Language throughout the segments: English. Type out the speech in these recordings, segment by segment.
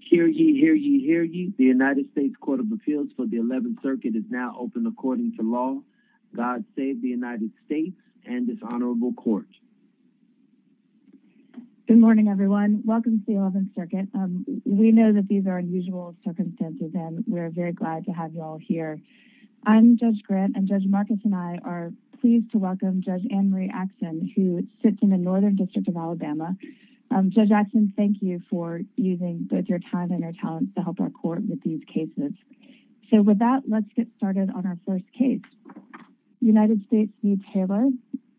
Hear ye, hear ye, hear ye. The United States Court of Appeals for the 11th Circuit is now open according to law. God save the United States and this honorable court. Good morning everyone. Welcome to the 11th Circuit. We know that these are unusual circumstances and we're very glad to have you all here. I'm Judge Grant and Judge Marcus and I are pleased to welcome Judge Anne Marie Axson who sits in the Northern District of Alabama. Judge Axson, thank you for using both your time and your talents to help our court with these cases. So with that let's get started on our first case. United States v. Taylor.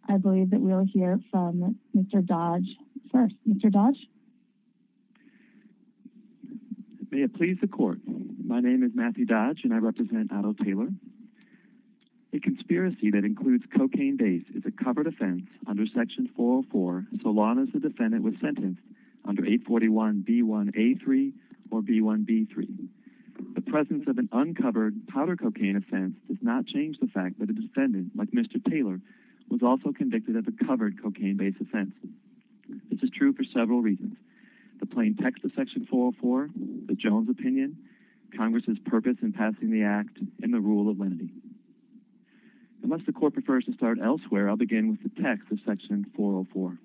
I believe that we'll hear from Mr. Dodge first. Mr. Dodge. May it please the court. My name is Matthew Dodge and I represent Otto Taylor. A conspiracy that includes cocaine base is a covered offense under section 404 so long as the defendant was B1A3 or B1B3. The presence of an uncovered powder cocaine offense does not change the fact that a defendant like Mr. Taylor was also convicted of a covered cocaine-based offense. This is true for several reasons. The plain text of section 404, the Jones opinion, Congress's purpose in passing the act, and the rule of lenity. Unless the court prefers to start elsewhere I'll begin with the text of section 404.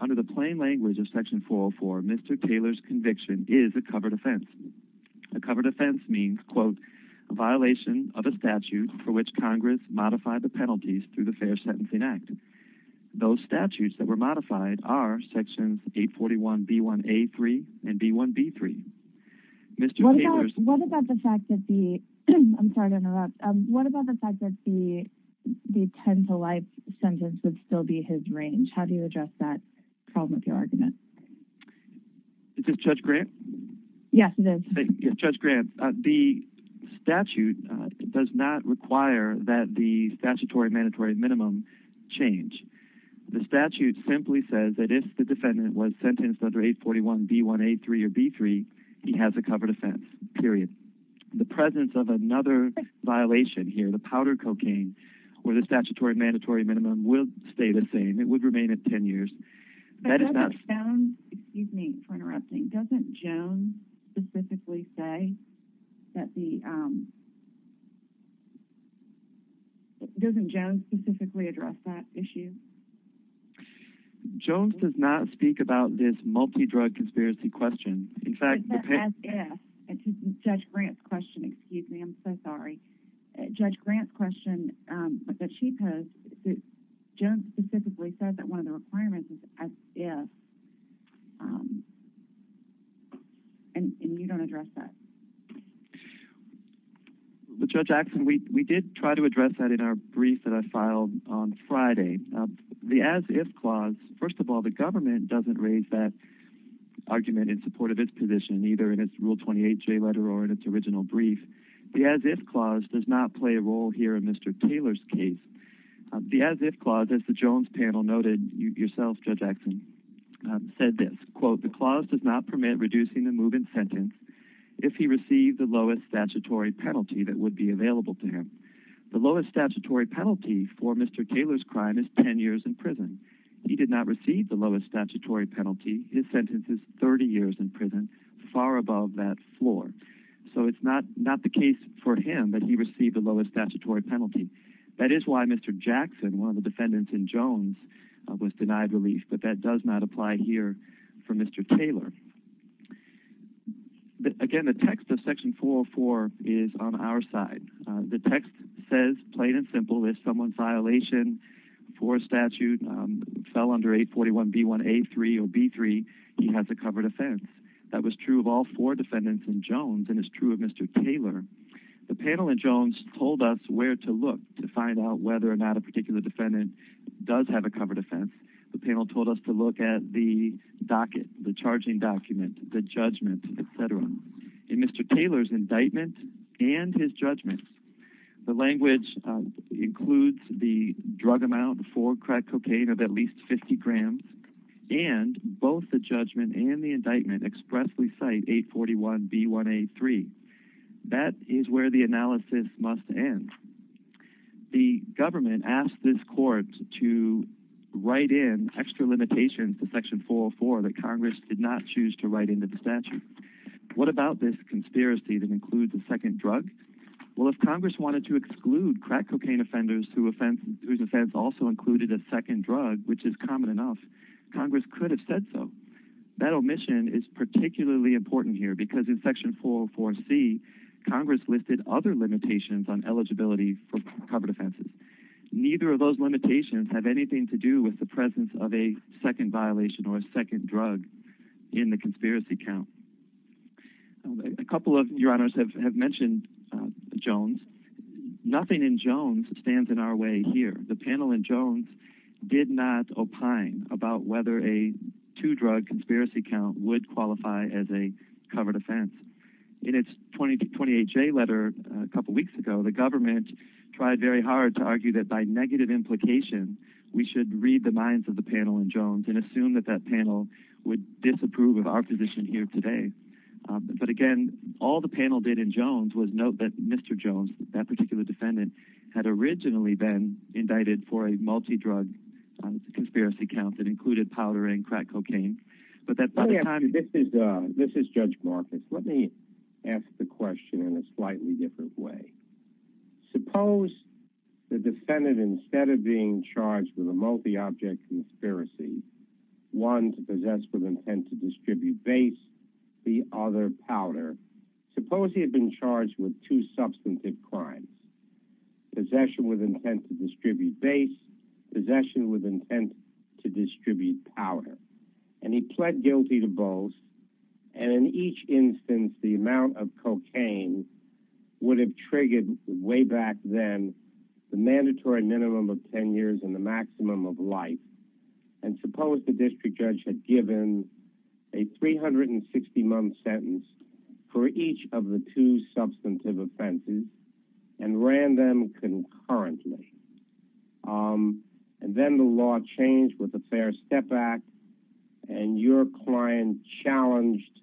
Under the plain language of section 404 Mr. Taylor's conviction is a covered offense. A covered offense means, quote, a violation of a statute for which Congress modified the penalties through the Fair Sentencing Act. Those statutes that were modified are sections 841 B1A3 and B1B3. What about the fact that the, I'm sorry to interrupt, what about the fact that the 10-to-life sentence would still be his range? How do you address that problem of your argument? Is this Judge Grant? Yes, it is. Judge Grant, the statute does not require that the statutory mandatory minimum change. The statute simply says that if the defendant was sentenced under 841 B1A3 or B3 he has a covered offense, period. The presence of another violation here, the powder cocaine, where the statutory mandatory minimum will stay the same. It would remain at 10 years. But doesn't Jones, excuse me for interrupting, doesn't Jones specifically say that the, doesn't Jones specifically address that issue? Jones does not speak about this multi-drug conspiracy question. In fact, Judge Grant's question, excuse me, I'm so confused. The chief has, Jones specifically says that one of the requirements is as if and you don't address that. Judge Axton, we did try to address that in our brief that I filed on Friday. The as if clause, first of all, the government doesn't raise that argument in support of its position, either in its Rule 28 J letter or in its original brief. The as if clause, as the Jones panel noted, you yourself, Judge Axton, said this, quote, the clause does not permit reducing the move in sentence if he received the lowest statutory penalty that would be available to him. The lowest statutory penalty for Mr. Taylor's crime is 10 years in prison. He did not receive the lowest statutory penalty. His sentence is 30 years in prison, far above that floor. So it's not the case for him that he received the lowest statutory penalty. That is why Mr. Jackson, one of the defendants in Jones, was denied relief, but that does not apply here for Mr. Taylor. Again, the text of Section 404 is on our side. The text says, plain and simple, if someone's violation for a statute fell under 841 B1A3 or B3, he has a covered offense. That was true of all four defendants in Jones and is true of Mr. Taylor. The panel in Jones told us where to look to find out whether or not a particular defendant does have a covered offense. The panel told us to look at the docket, the charging document, the judgment, etc. In Mr. Taylor's indictment and his judgment, the language includes the drug amount for crack cocaine of at least 50 grams and both the judgment and the indictment expressly cite 841 B1A3. That is where the analysis must end. The government asked this court to write in extra limitations to Section 404 that Congress did not choose to write into the statute. What about this conspiracy that includes a second drug? Well, if Congress wanted to exclude crack cocaine offenders whose offense also included a second drug, which is common enough, Congress could have said so. That omission is particularly important here because in Section 404 C, Congress listed other limitations on eligibility for covered offenses. Neither of those limitations have anything to do with the presence of a second violation or a second drug in the conspiracy count. A couple of your honors have mentioned Jones. Nothing in Jones stands in our way here. The panel in Jones did not opine about whether a two-drug conspiracy count would qualify as a covered offense. In its 2028 J letter a couple weeks ago, the government tried very hard to argue that by negative implication, we should read the minds of the panel in Jones and assume that that panel would disapprove of our position here today. But again, all the panel did in Jones was note that Mr. Jones, that particular defendant, had originally been indicted for a multi-drug conspiracy count that Let me ask the question in a slightly different way. Suppose the defendant, instead of being charged with a multi-object conspiracy, one to possess with intent to distribute base, the other powder. Suppose he had been charged with two substantive crimes. Possession with intent to distribute base, possession with intent to the amount of cocaine, would have triggered way back then the mandatory minimum of 10 years and the maximum of life. And suppose the district judge had given a 360-month sentence for each of the two substantive offenses and ran them concurrently. And then the law changed with the Fair Step Act and your client challenged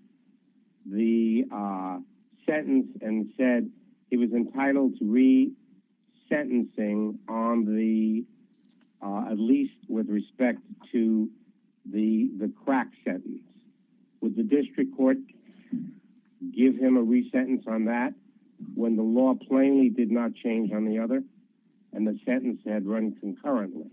the sentence and said it was entitled to re-sentencing on the, at least with respect to the the crack sentence. Would the district court give him a re-sentence on that when the law plainly did not change on the other and the sentence had run concurrently?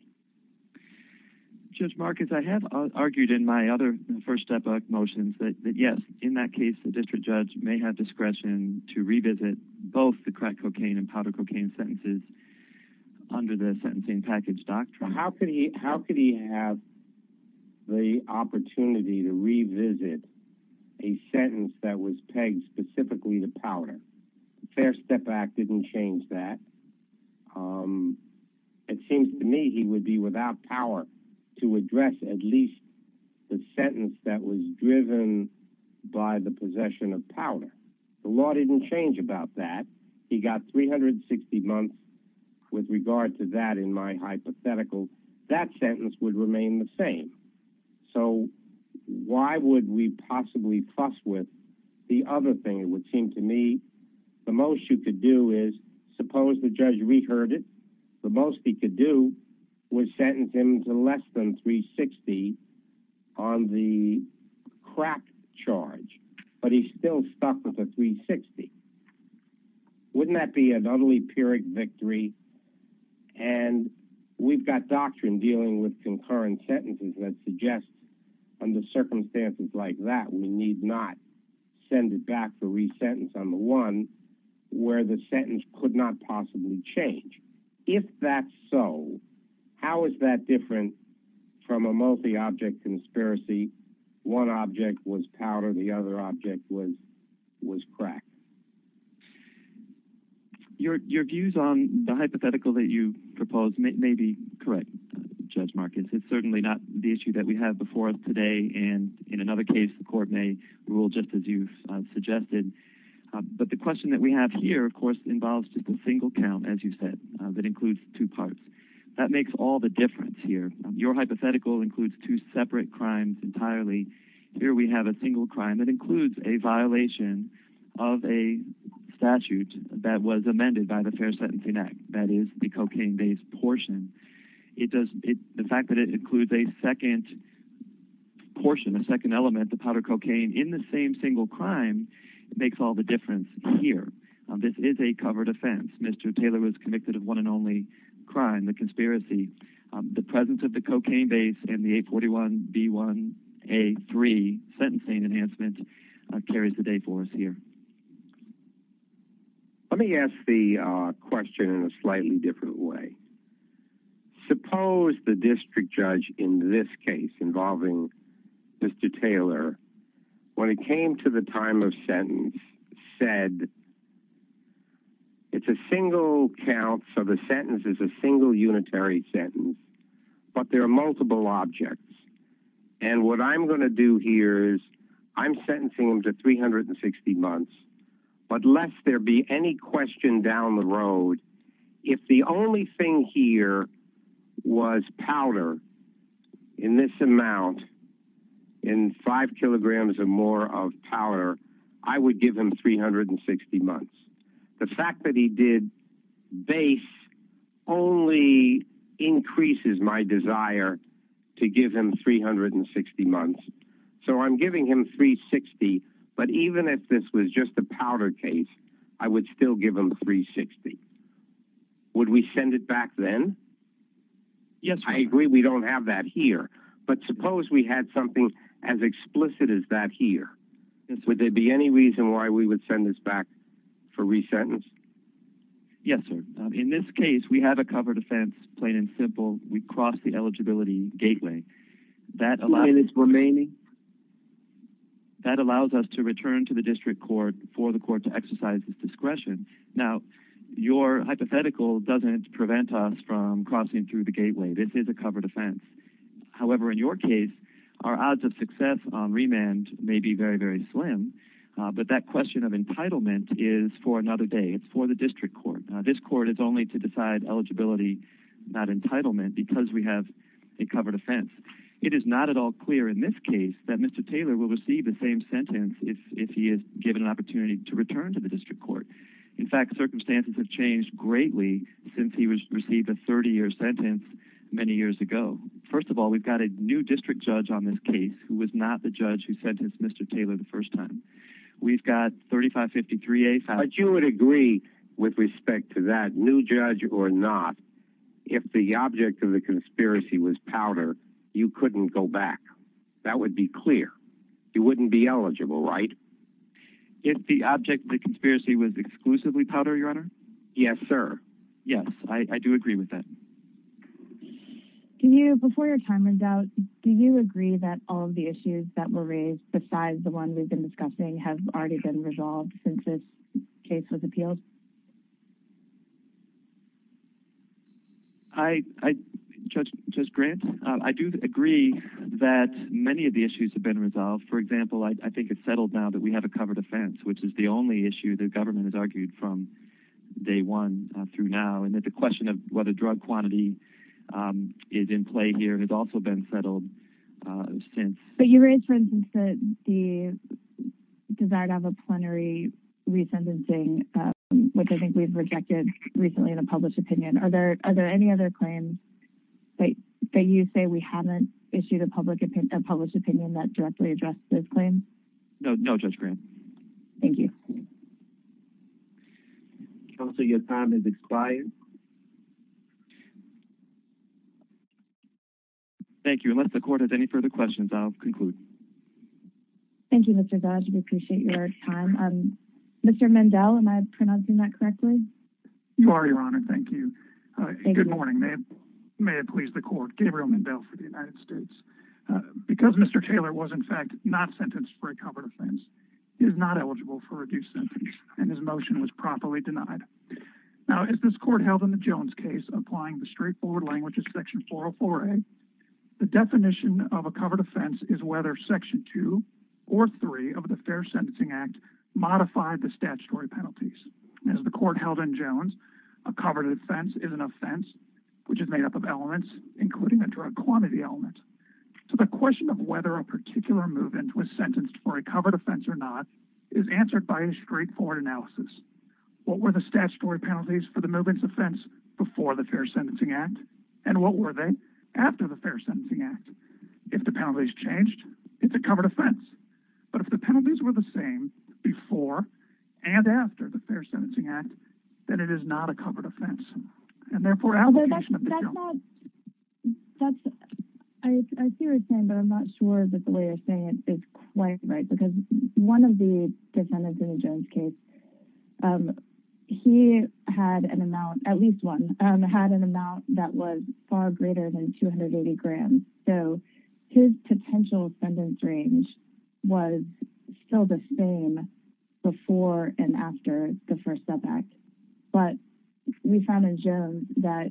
Judge Marcus, I have argued in my other First Step Act motions that yes, in that case the district judge may have discretion to revisit both the crack cocaine and powder cocaine sentences under the sentencing package doctrine. How could he have the opportunity to revisit a sentence that was pegged specifically to powder? The Fair Step Act didn't change that. It seems to me he would be without power to revisit a sentence that was driven by the possession of powder. The law didn't change about that. He got 360 months. With regard to that in my hypothetical, that sentence would remain the same. So why would we possibly trust with the other thing? It would seem to me the most you could do is suppose the judge re-heard it. The most he could do was sentence him to less than 360 on the crack charge, but he's still stuck with a 360. Wouldn't that be an utterly pyrrhic victory? And we've got doctrine dealing with concurrent sentences that suggests under circumstances like that we need not send it back for re-sentence on the one where the sentence could not possibly change. If that's so, how is that different from a multi-object conspiracy? One object was powder, the other object was crack. Your views on the hypothetical that you propose may be correct, Judge Marcus. It's certainly not the issue that we have before us today and in another case the court may rule just as you've suggested. But the question that we have here, of course, involves just a single count, as you said, that includes two parts. That makes all the difference here. Your hypothetical includes two separate crimes entirely. Here we have a single crime that includes a violation of a statute that was amended by the Fair Sentencing Act, that is the cocaine-based portion. The fact that it includes a second portion, a second element, the powder cocaine, in the same single crime, it makes all the difference here. This is a covered offense. Mr. Taylor was convicted of one and only crime, the conspiracy. The presence of the cocaine base and the 841B1A3 sentencing enhancement carries the day for us here. Let me ask the question in a slightly different way. Suppose the district judge in this case, involving Mr. Taylor, when it came to the time of sentence, said it's a single count, so the sentence is a single unitary sentence, but there are multiple objects. And what I'm going to do here is I'm sentencing him to 360 months, but lest there be any question down the road, if the only thing here was powder in this amount, in five kilograms or more of powder, I would give him 360 months. The fact that he did base only increases my desire to give him 360 months. So I'm giving him 360, but even if this was just a powder case, I would still give him 360. Would we send it back then? Yes, sir. I agree we don't have that here, but suppose we had something as explicit as that here. Would there be any reason why we would send this back for re-sentence? Yes, sir. In this case we have a covered offense, plain and simple. We crossed the eligibility gateway. That allows us to return to the district court for the court to exercise its discretion. Now, your hypothetical doesn't prevent us from crossing through the gateway. This is a covered offense. However, in your case, our odds of success on remand may be very, very slim, but that question of entitlement is for another day. It's for the district court. This court is only to decide eligibility, not entitlement, because we have a covered offense. It is not at all clear in this case that Mr. Taylor is given an opportunity to return to the district court. In fact, circumstances have changed greatly since he was received a 30-year sentence many years ago. First of all, we've got a new district judge on this case who was not the judge who sentenced Mr. Taylor the first time. We've got 3553A. But you would agree with respect to that, new judge or not, if the object of the conspiracy was powder, you couldn't go back. That would be clear. You wouldn't be able to go back. If the object of the conspiracy was exclusively powder, your Honor? Yes, sir. Yes, I do agree with that. Can you, before your time runs out, do you agree that all of the issues that were raised, besides the one we've been discussing, have already been resolved since this case was appealed? I, Judge Grant, I do agree that many of the issues have been resolved. For example, I think it's settled now that we have a covered offense, which is the only issue the government has argued from day one through now, and that the question of whether drug quantity is in play here has also been settled since. But you raised, for instance, that the desire to have a plenary re-sentencing, which I think we've rejected recently in a published opinion. Are there any other claims that you say we haven't issued a published opinion that directly address those claims? No, Judge Grant. Thank you. Counselor, your time is expired. Thank you. Unless the Court has any further questions, I'll conclude. Thank you, Mr. Dodge. We appreciate your time. Mr. Mandel, am I pronouncing that correctly? You are, Your Honor. Thank you. Good morning. May it please the Court. Gabriel Mandel for the United States. Because Mr. Taylor was, in fact, not sentenced for a covered offense, he is not eligible for a reduced sentence, and his motion was properly denied. Now, as this Court held in the Jones case, applying the straightforward language of Section 404A, the definition of a covered offense is whether Section 2 or 3 of the Fair Sentencing Act modified the statutory penalties. As the Court held in Jones, a covered offense is an offense which is made up of elements, including a drug quantity element. So the question of whether a particular move-in was sentenced for a covered offense or not is answered by a straightforward analysis. What were the statutory penalties for the move-in's offense before the Fair Sentencing Act, and what were they after the Fair Sentencing Act? If the penalties changed, it's a covered offense. But if the penalties were the same before and after the Fair Sentencing Act, then it is not a covered offense. And therefore, application of the term— I see what you're saying, but I'm not sure that the way you're saying it is quite right, because one of the defendants in the Jones case, he had an amount—at least one—had an amount that was far greater than 280 grams. So his potential sentence range was still the same before and after the first setback. But we found in Jones that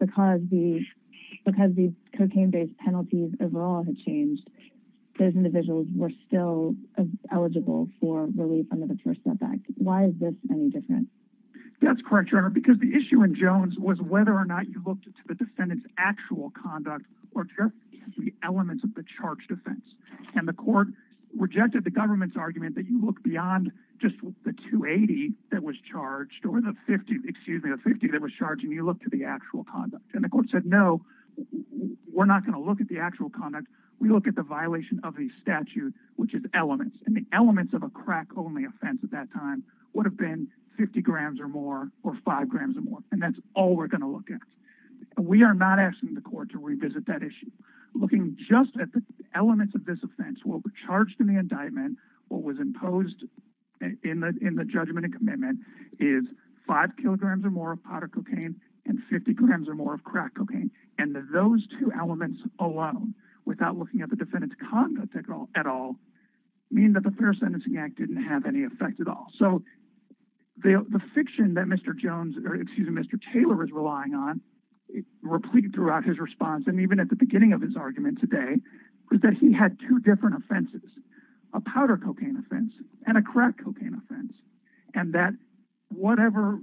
because these cocaine-based penalties overall had changed, those individuals were still eligible for relief under the first setback. Why is this any different? That's correct, Your Honor, because the issue in Jones was whether or not you looked at the defendant's actual conduct or just the elements of the charged offense. And the Court rejected the government's argument that you look beyond just the 280 that was charged or the 50—excuse me—the 50 that was charged, and you look to the actual conduct. And the Court said, no, we're not going to look at the actual conduct. We look at the violation of a statute, which is elements. And the elements of a crack-only offense at that time would have been 50 grams or more or 5 grams or more, and that's all we're going to look at. We are not asking the Court to revisit that issue. Looking just at the elements of this offense, what was charged in the indictment, what was imposed in the judgment and is 5 kilograms or more of powder cocaine and 50 grams or more of crack cocaine. And those two elements alone, without looking at the defendant's conduct at all, mean that the Fair Sentencing Act didn't have any effect at all. So the fiction that Mr. Jones—or excuse me—Mr. Taylor is relying on replete throughout his response and even at the beginning of his argument today, is that he had two different offenses—a powder cocaine offense and a crack cocaine offense. Whatever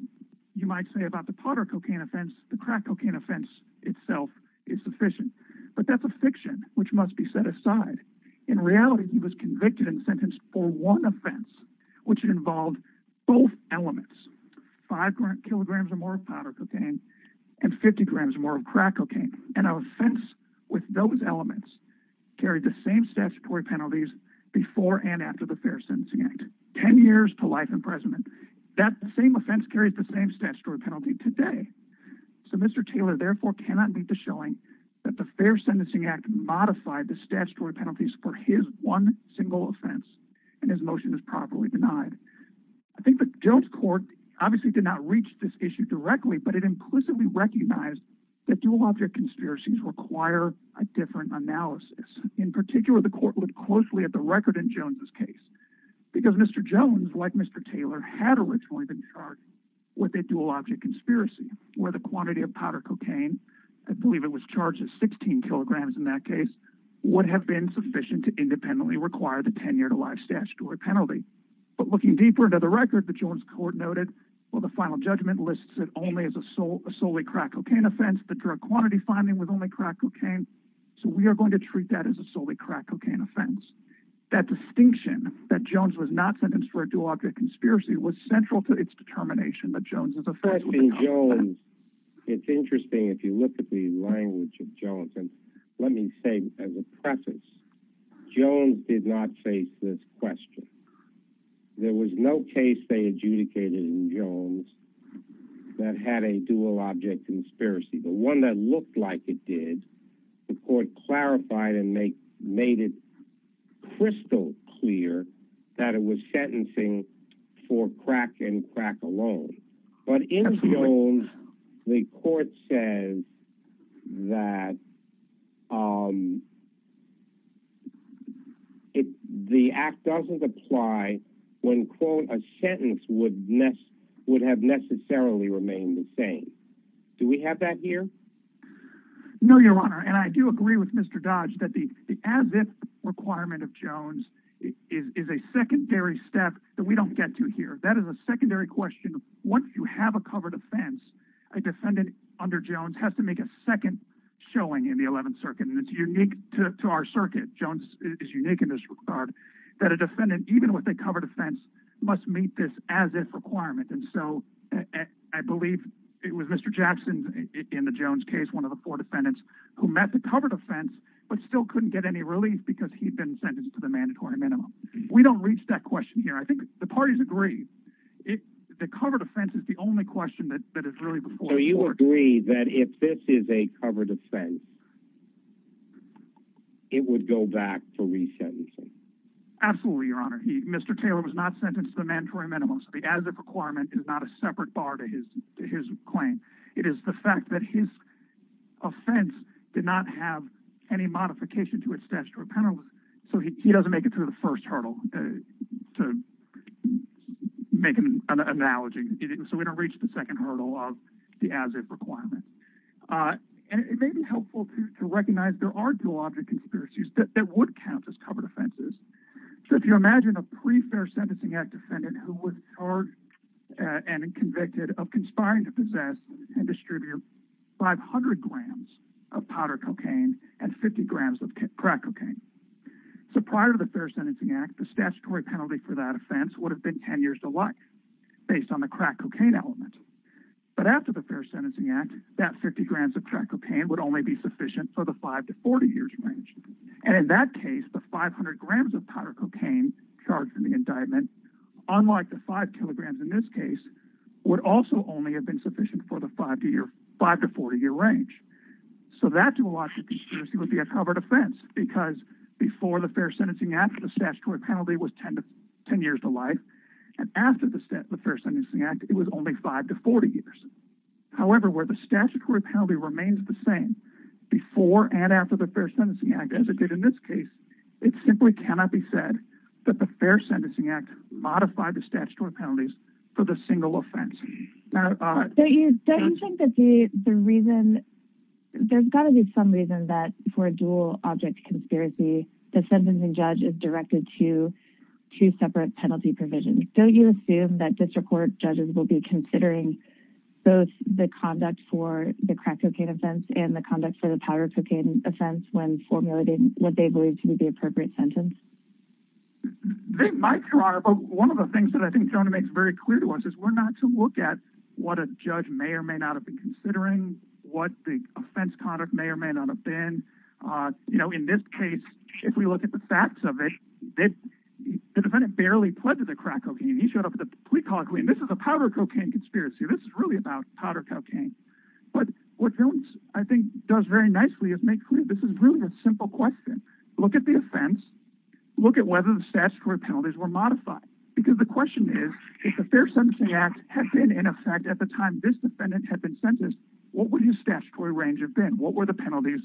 you might say about the powder cocaine offense, the crack cocaine offense itself is sufficient. But that's a fiction which must be set aside. In reality, he was convicted and sentenced for one offense, which involved both elements—5 kilograms or more of powder cocaine and 50 grams or more of crack cocaine. And an offense with those elements carried the same statutory penalties before and after the Fair Sentencing Act—10 years to life imprisonment—that same offense carries the same statutory penalty today. So Mr. Taylor therefore cannot lead to showing that the Fair Sentencing Act modified the statutory penalties for his one single offense and his motion is properly denied. I think the Jones court obviously did not reach this issue directly, but it implicitly recognized that dual-object conspiracies require a different analysis. In particular, the court looked closely at the record in Mr. Jones, like Mr. Taylor, had originally been charged with a dual-object conspiracy, where the quantity of powder cocaine—I believe it was charged at 16 kilograms in that case—would have been sufficient to independently require the 10-year-to-life statutory penalty. But looking deeper into the record, the Jones court noted, well, the final judgment lists it only as a solely crack cocaine offense. The drug quantity finding was only crack cocaine, so we are going to treat that as a solely crack cocaine offense. That distinction that Jones was not sentenced for a dual-object conspiracy was central to its determination that Jones' offense was a crack cocaine offense. It's interesting, if you look at the language of Jones, and let me say as a preface, Jones did not face this question. There was no case they adjudicated in Jones that had a dual-object conspiracy. The one that looked like it did, the court clarified and made it crystal clear that it was sentencing for crack and crack alone. But in Jones, the court says that the act doesn't apply when, quote, a sentence would have necessarily remained the same. Do we have that here? No, Your Honor, and I do agree with Mr. Dodge that the as-if requirement of Jones is a secondary step that we don't get to here. That is a secondary question. Once you have a covered offense, a defendant under Jones has to make a second showing in the Eleventh Circuit, and it's unique to our circuit. Jones is unique in this regard, that a defendant, even with a covered offense, must meet this as-if requirement. I believe it was Mr. Jackson in the Jones case, one of the four defendants, who met the covered offense but still couldn't get any relief because he'd been sentenced to the mandatory minimum. We don't reach that question here. I think the parties agree. The covered offense is the only question that is really before the court. So you agree that if this is a covered offense, it would go back to resentencing? Absolutely, Your Honor. Mr. Taylor was not a mandatory minimum, so the as-if requirement is not a separate bar to his claim. It is the fact that his offense did not have any modification to its statutory penalty, so he doesn't make it through the first hurdle, to make an analogy. So we don't reach the second hurdle of the as-if requirement. It may be helpful to recognize there are dual object conspiracies that would count as covered who was charged and convicted of conspiring to possess and distribute 500 grams of powder cocaine and 50 grams of crack cocaine. So prior to the Fair Sentencing Act, the statutory penalty for that offense would have been 10 years to life based on the crack cocaine element, but after the Fair Sentencing Act, that 50 grams of crack cocaine would only be sufficient for the 5 to 40 years range, and in that case, the 500 grams of powder cocaine charged in the indictment unlike the 5 kilograms in this case, would also only have been sufficient for the 5 to 40 year range. So that dual object conspiracy would be a covered offense because before the Fair Sentencing Act, the statutory penalty was 10 years to life, and after the Fair Sentencing Act, it was only 5 to 40 years. However, where the statutory penalty remains the same before and after the Fair Sentencing Act as it did in this case, it simply cannot be said that the Fair Sentencing Act modified the statutory penalties for the single offense. Don't you think that the reason, there's got to be some reason that for a dual object conspiracy, the sentencing judge is directed to two separate penalty provisions. Don't you assume that district court judges will be considering both the conduct for the crack cocaine offense and the conduct for the powder cocaine offense when formulating what they believe to be the They might, Your Honor, but one of the things that I think Jonah makes very clear to us is we're not to look at what a judge may or may not have been considering, what the offense conduct may or may not have been. You know, in this case, if we look at the facts of it, the defendant barely pledged to the crack cocaine. He showed up with a plea bargain. This is a powder cocaine conspiracy. This is really about powder cocaine. But what Jones, I think, does very nicely is make clear this is really a simple question. Look at the offense. Look at whether the statutory penalties were modified. Because the question is, if the Fair Sentencing Act had been in effect at the time this defendant had been sentenced, what would his statutory range have been? What were the penalties?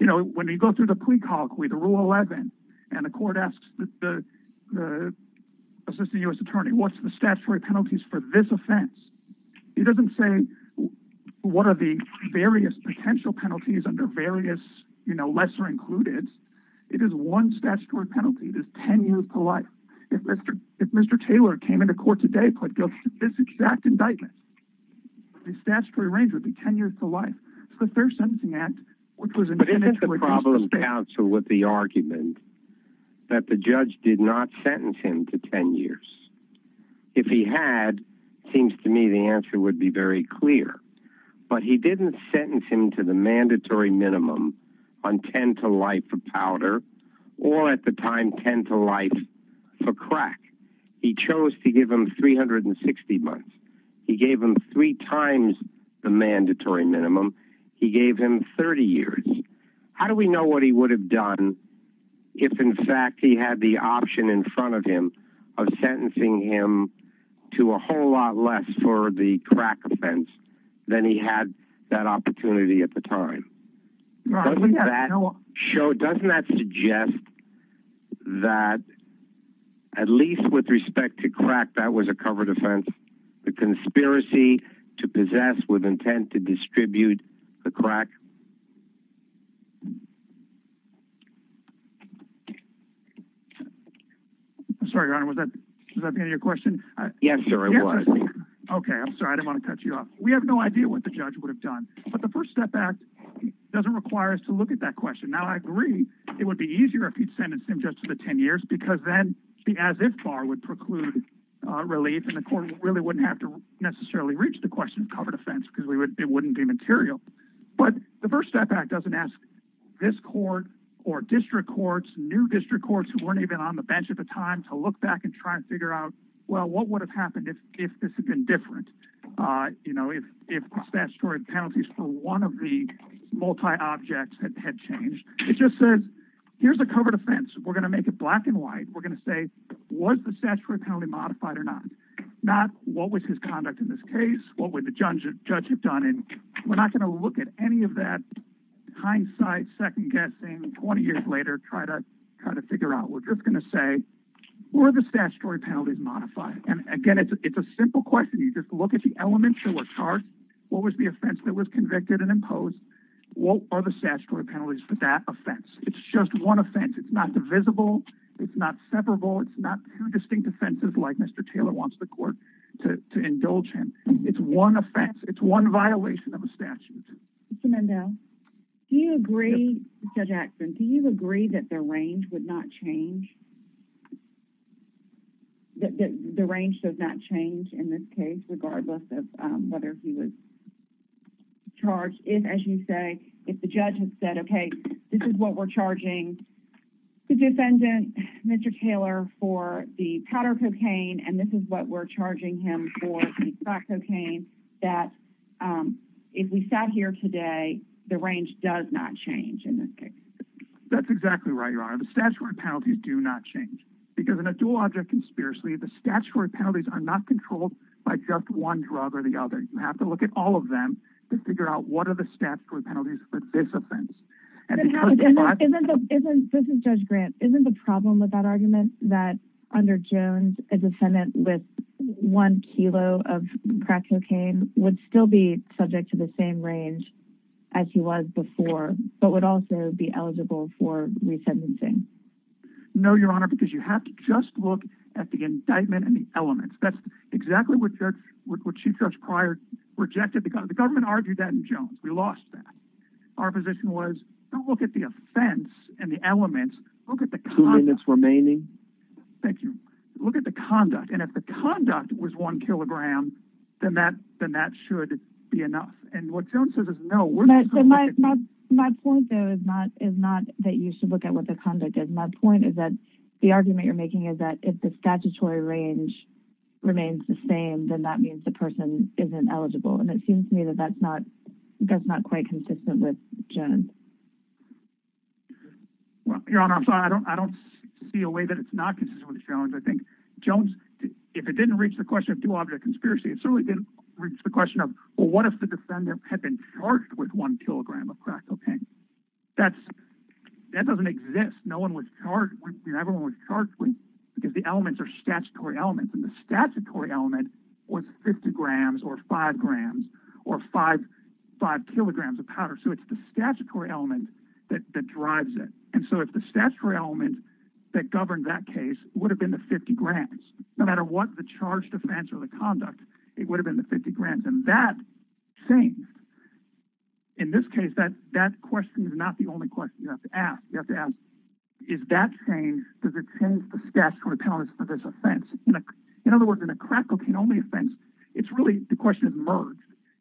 You know, when you go through the plea colloquy, the Rule 11, and the court asks the Assistant U.S. Attorney, what's the statutory penalties for this offense? He doesn't say what are the various potential penalties under various, you know, lesser-included. It is one statutory penalty. It is ten years to life. If Mr. Taylor came into court today and put this exact indictment, his statutory range would be ten years to life. The Fair Sentencing Act, which was in effect... But isn't the problem, counsel, with the argument that the judge did not sentence him to ten years? If he had, seems to me the answer would be very clear. But he didn't sentence him to the mandatory minimum on ten to life for powder, or at the time, ten to life for crack. He chose to give him 360 months. He gave him three times the mandatory minimum. He gave him 30 years. How do we know what he would have done if, in fact, he had the option in front of him of sentencing him to a whole lot less for the crack offense than he had that opportunity at the time? Doesn't that show, doesn't that suggest that, at least with respect to crack, that was a covered offense? The conspiracy to I'm sorry, Your Honor, was that the end of your question? Yes, sir, it was. Okay, I'm sorry. I didn't want to cut you off. We have no idea what the judge would have done. But the First Step Act doesn't require us to look at that question. Now, I agree it would be easier if he'd sentenced him just to the ten years because then the as-if bar would preclude relief and the court really wouldn't have to necessarily reach the question of covered offense because it wouldn't be material. But the First Step Act doesn't ask this court or district courts, new time to look back and try and figure out, well, what would have happened if this had been different? You know, if statutory penalties for one of the multi-objects had changed. It just says, here's a covered offense. We're gonna make it black and white. We're gonna say, was the statutory penalty modified or not? Not, what was his conduct in this case? What would the judge have done? And we're not gonna look at any of that hindsight, second-guessing, 20 years later, try to figure out. We're just gonna say, were the statutory penalties modified? And again, it's a simple question. You just look at the elementary chart. What was the offense that was convicted and imposed? What are the statutory penalties for that offense? It's just one offense. It's not divisible. It's not separable. It's not two distinct offenses like Mr. Taylor wants the court to indulge him. It's one offense. It's one violation of a statute. Mr. Mendel, do you agree, Mr. Jackson, do you agree that the range would not change? That the range does not change in this case regardless of whether he was charged? If, as you say, if the judge has said, okay, this is what we're charging the defendant, Mr. Taylor, for the powder cocaine and this is what we're charging him for the crack cocaine, that if we sat here today, the range does not change in this case? That's exactly right, Your Honor. The statutory penalties do not change. Because in a dual-object conspiracy, the statutory penalties are not controlled by just one drug or the other. You have to look at all of them to figure out what are the statutory penalties for this offense. This is Judge Grant. Isn't the problem with that argument that under Jones, a one kilo of crack cocaine would still be subject to the same range as he was before, but would also be eligible for resentencing? No, Your Honor, because you have to just look at the indictment and the elements. That's exactly what Chief Judge Pryor rejected. The government argued that in Jones. We lost that. Our position was, don't look at the offense and the elements, look at the conduct. Two minutes remaining. Thank you. Look at the conduct. If the conduct was one kilogram, then that should be enough. What Jones says is no. My point, though, is not that you should look at what the conduct is. My point is that the argument you're making is that if the statutory range remains the same, then that means the person isn't eligible. It seems to me that that's not quite consistent with Jones. Your Honor, I'm sorry. I don't see a way that it's not consistent with Jones. I think Jones, if it didn't reach the question of due object conspiracy, it certainly didn't reach the question of, well, what if the defendant had been charged with one kilogram of crack cocaine? That doesn't exist. No one was charged. Everyone was charged because the elements are statutory elements. The statutory element was 50 grams or 5 grams or 5 kilograms of powder. It's the statutory element that drives it. If the statutory element that governed that case would have been the 50 grams, no matter what the charged offense or the conduct, it would have been the 50 grams. That changed. In this case, that question is not the only question you have to ask. You have to ask, is that change, does it change the statutory penalties for this offense? In other words, in a crack cocaine-only offense, it's really the question of merge.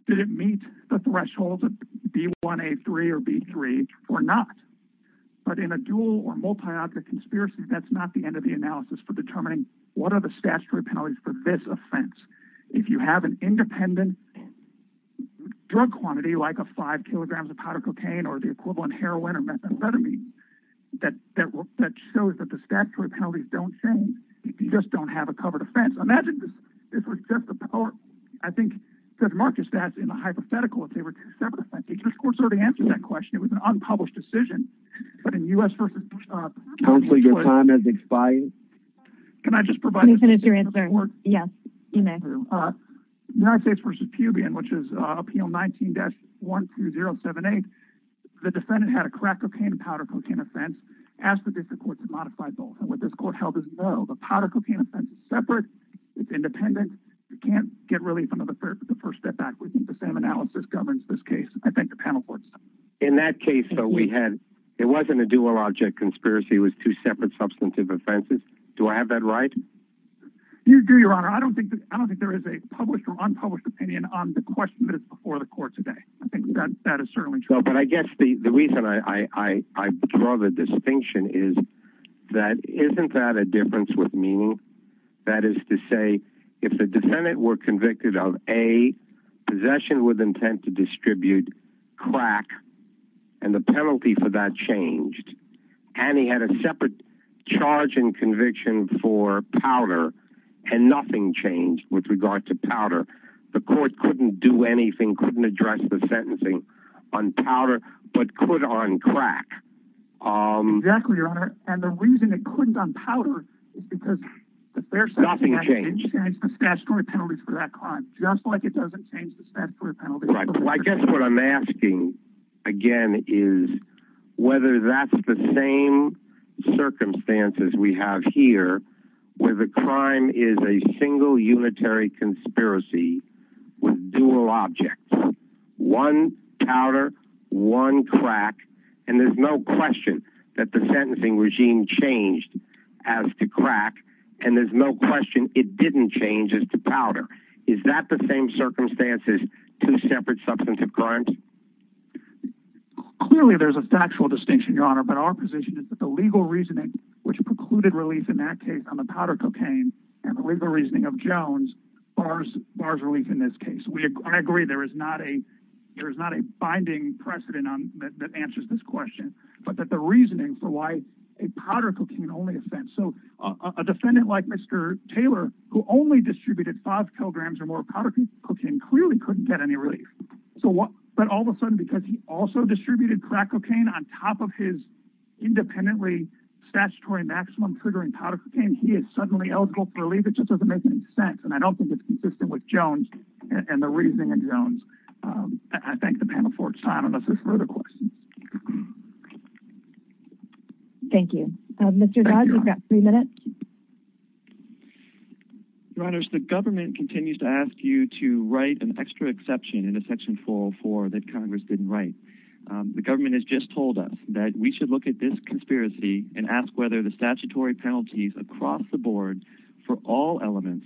Did it meet the thresholds of B1, A3, or B3 or not? In a dual or multi-object conspiracy, that's not the end of the analysis for determining what are the statutory penalties for this offense. If you have an independent drug quantity like a 5 kilograms of powder cocaine or the equivalent heroin or methamphetamine that shows that the statutory penalties don't change, you just don't have a covered offense. Imagine this was just a power, I think Judge Marcus stats in a hypothetical if they were two separate offenses. This court has already answered that question. It was an unpublished decision. But in U.S. versus... Your time has expired. Can I just provide... Yes, you may. United States versus Pubian, which is appeal 19-12078, the defendant had a crack cocaine and powder cocaine offense, asked the district court to modify both. What this court held is no. The powder cocaine offense is separate. It's independent. You can't get relief under the first step backwards. The SAM analysis governs this case. I thank the panel for it. In that case, it wasn't a dual-object conspiracy. It was two separate substantive offenses. Do I have that right? You do, Your Honor. I don't think there is a published or unpublished opinion on the question that is before the court today. I think that is certainly true. I guess the reason I draw the distinction is that isn't that a difference with meaning? That is to say, if the defendant were convicted of A, possession with intent to distribute, crack, and the penalty for that changed, and he had a separate charge and conviction for powder, and nothing changed with regard to powder, the court couldn't do anything, couldn't address the matter of powder, but could on crack. Exactly, Your Honor. And the reason it couldn't on powder is because nothing changed. Nothing changed. The statutory penalties for that crime. Just like it doesn't change the statutory penalties. Right. Well, I guess what I'm asking, again, is whether that's the same circumstances we have here where the crime is a single unitary conspiracy with dual objects. One powder, one crack, and there's no question that the sentencing regime changed as to crack, and there's no question it didn't change as to powder. Is that the same circumstances, two separate substantive crimes? Clearly there's a factual distinction, Your Honor, but our position is that the legal reasoning which precluded relief in that case on the powder case is that there is not a binding precedent that answers this question, but that the reasoning for why a powder cocaine-only offense. So a defendant like Mr. Taylor, who only distributed five kilograms or more of powder cocaine, clearly couldn't get any relief. But all of a sudden, because he also distributed crack cocaine on top of his independently statutory maximum triggering powder cocaine, he is suddenly eligible for relief. It just doesn't make any sense, and I don't think it's consistent with Jones and the reasoning of Jones. I thank the panel for its time. Unless there's further questions. Thank you. Mr. Dodd, you've got three minutes. Your Honors, the government continues to ask you to write an extra exception in a section 404 that Congress didn't write. The government has just told us that we should look at this conspiracy and ask whether the statutory penalties across the board for all elements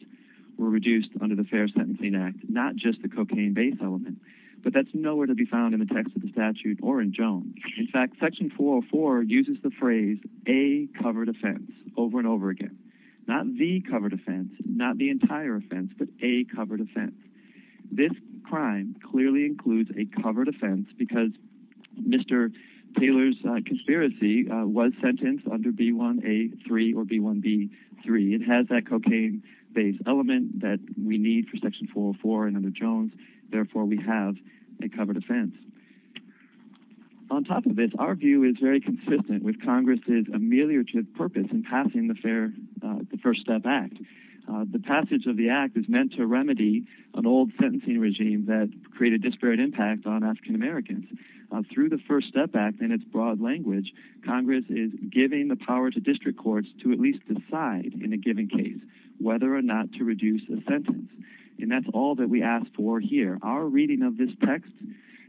were reduced under the Fair Sentencing Act, not just the cocaine-based element. But that's nowhere to be found in the text of the statute or in Jones. In fact, section 404 uses the phrase, a covered offense, over and over again. Not the covered offense, not the entire offense, but a covered offense. This crime clearly includes a covered offense because Mr. Taylor's conspiracy was sentenced under B1A3 or B1B3. It has that cocaine-based element that we need for section 404 and under Jones. Therefore, we have a covered offense. On top of this, our view is very consistent with Congress' ameliorative purpose in passing the First Step Act. The passage of the Act is meant to remedy an old sentencing regime that created disparate impact on African Americans. Through the First Step Act and its broad language, Congress is giving the power to district courts to at least decide in a given case whether or not to reduce a sentence. That's all that we ask for here. Our reading of this text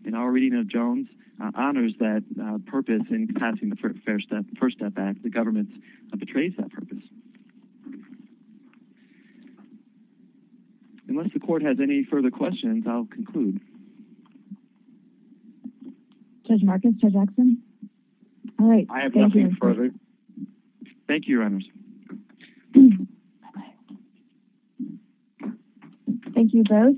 and our reading of Jones honors that purpose in passing the First Step Act. The government betrays that purpose. Unless the court has any further questions, I'll conclude. Judge Marcus? Judge Axson? I have nothing further. Thank you, Your Honors. Thank you both.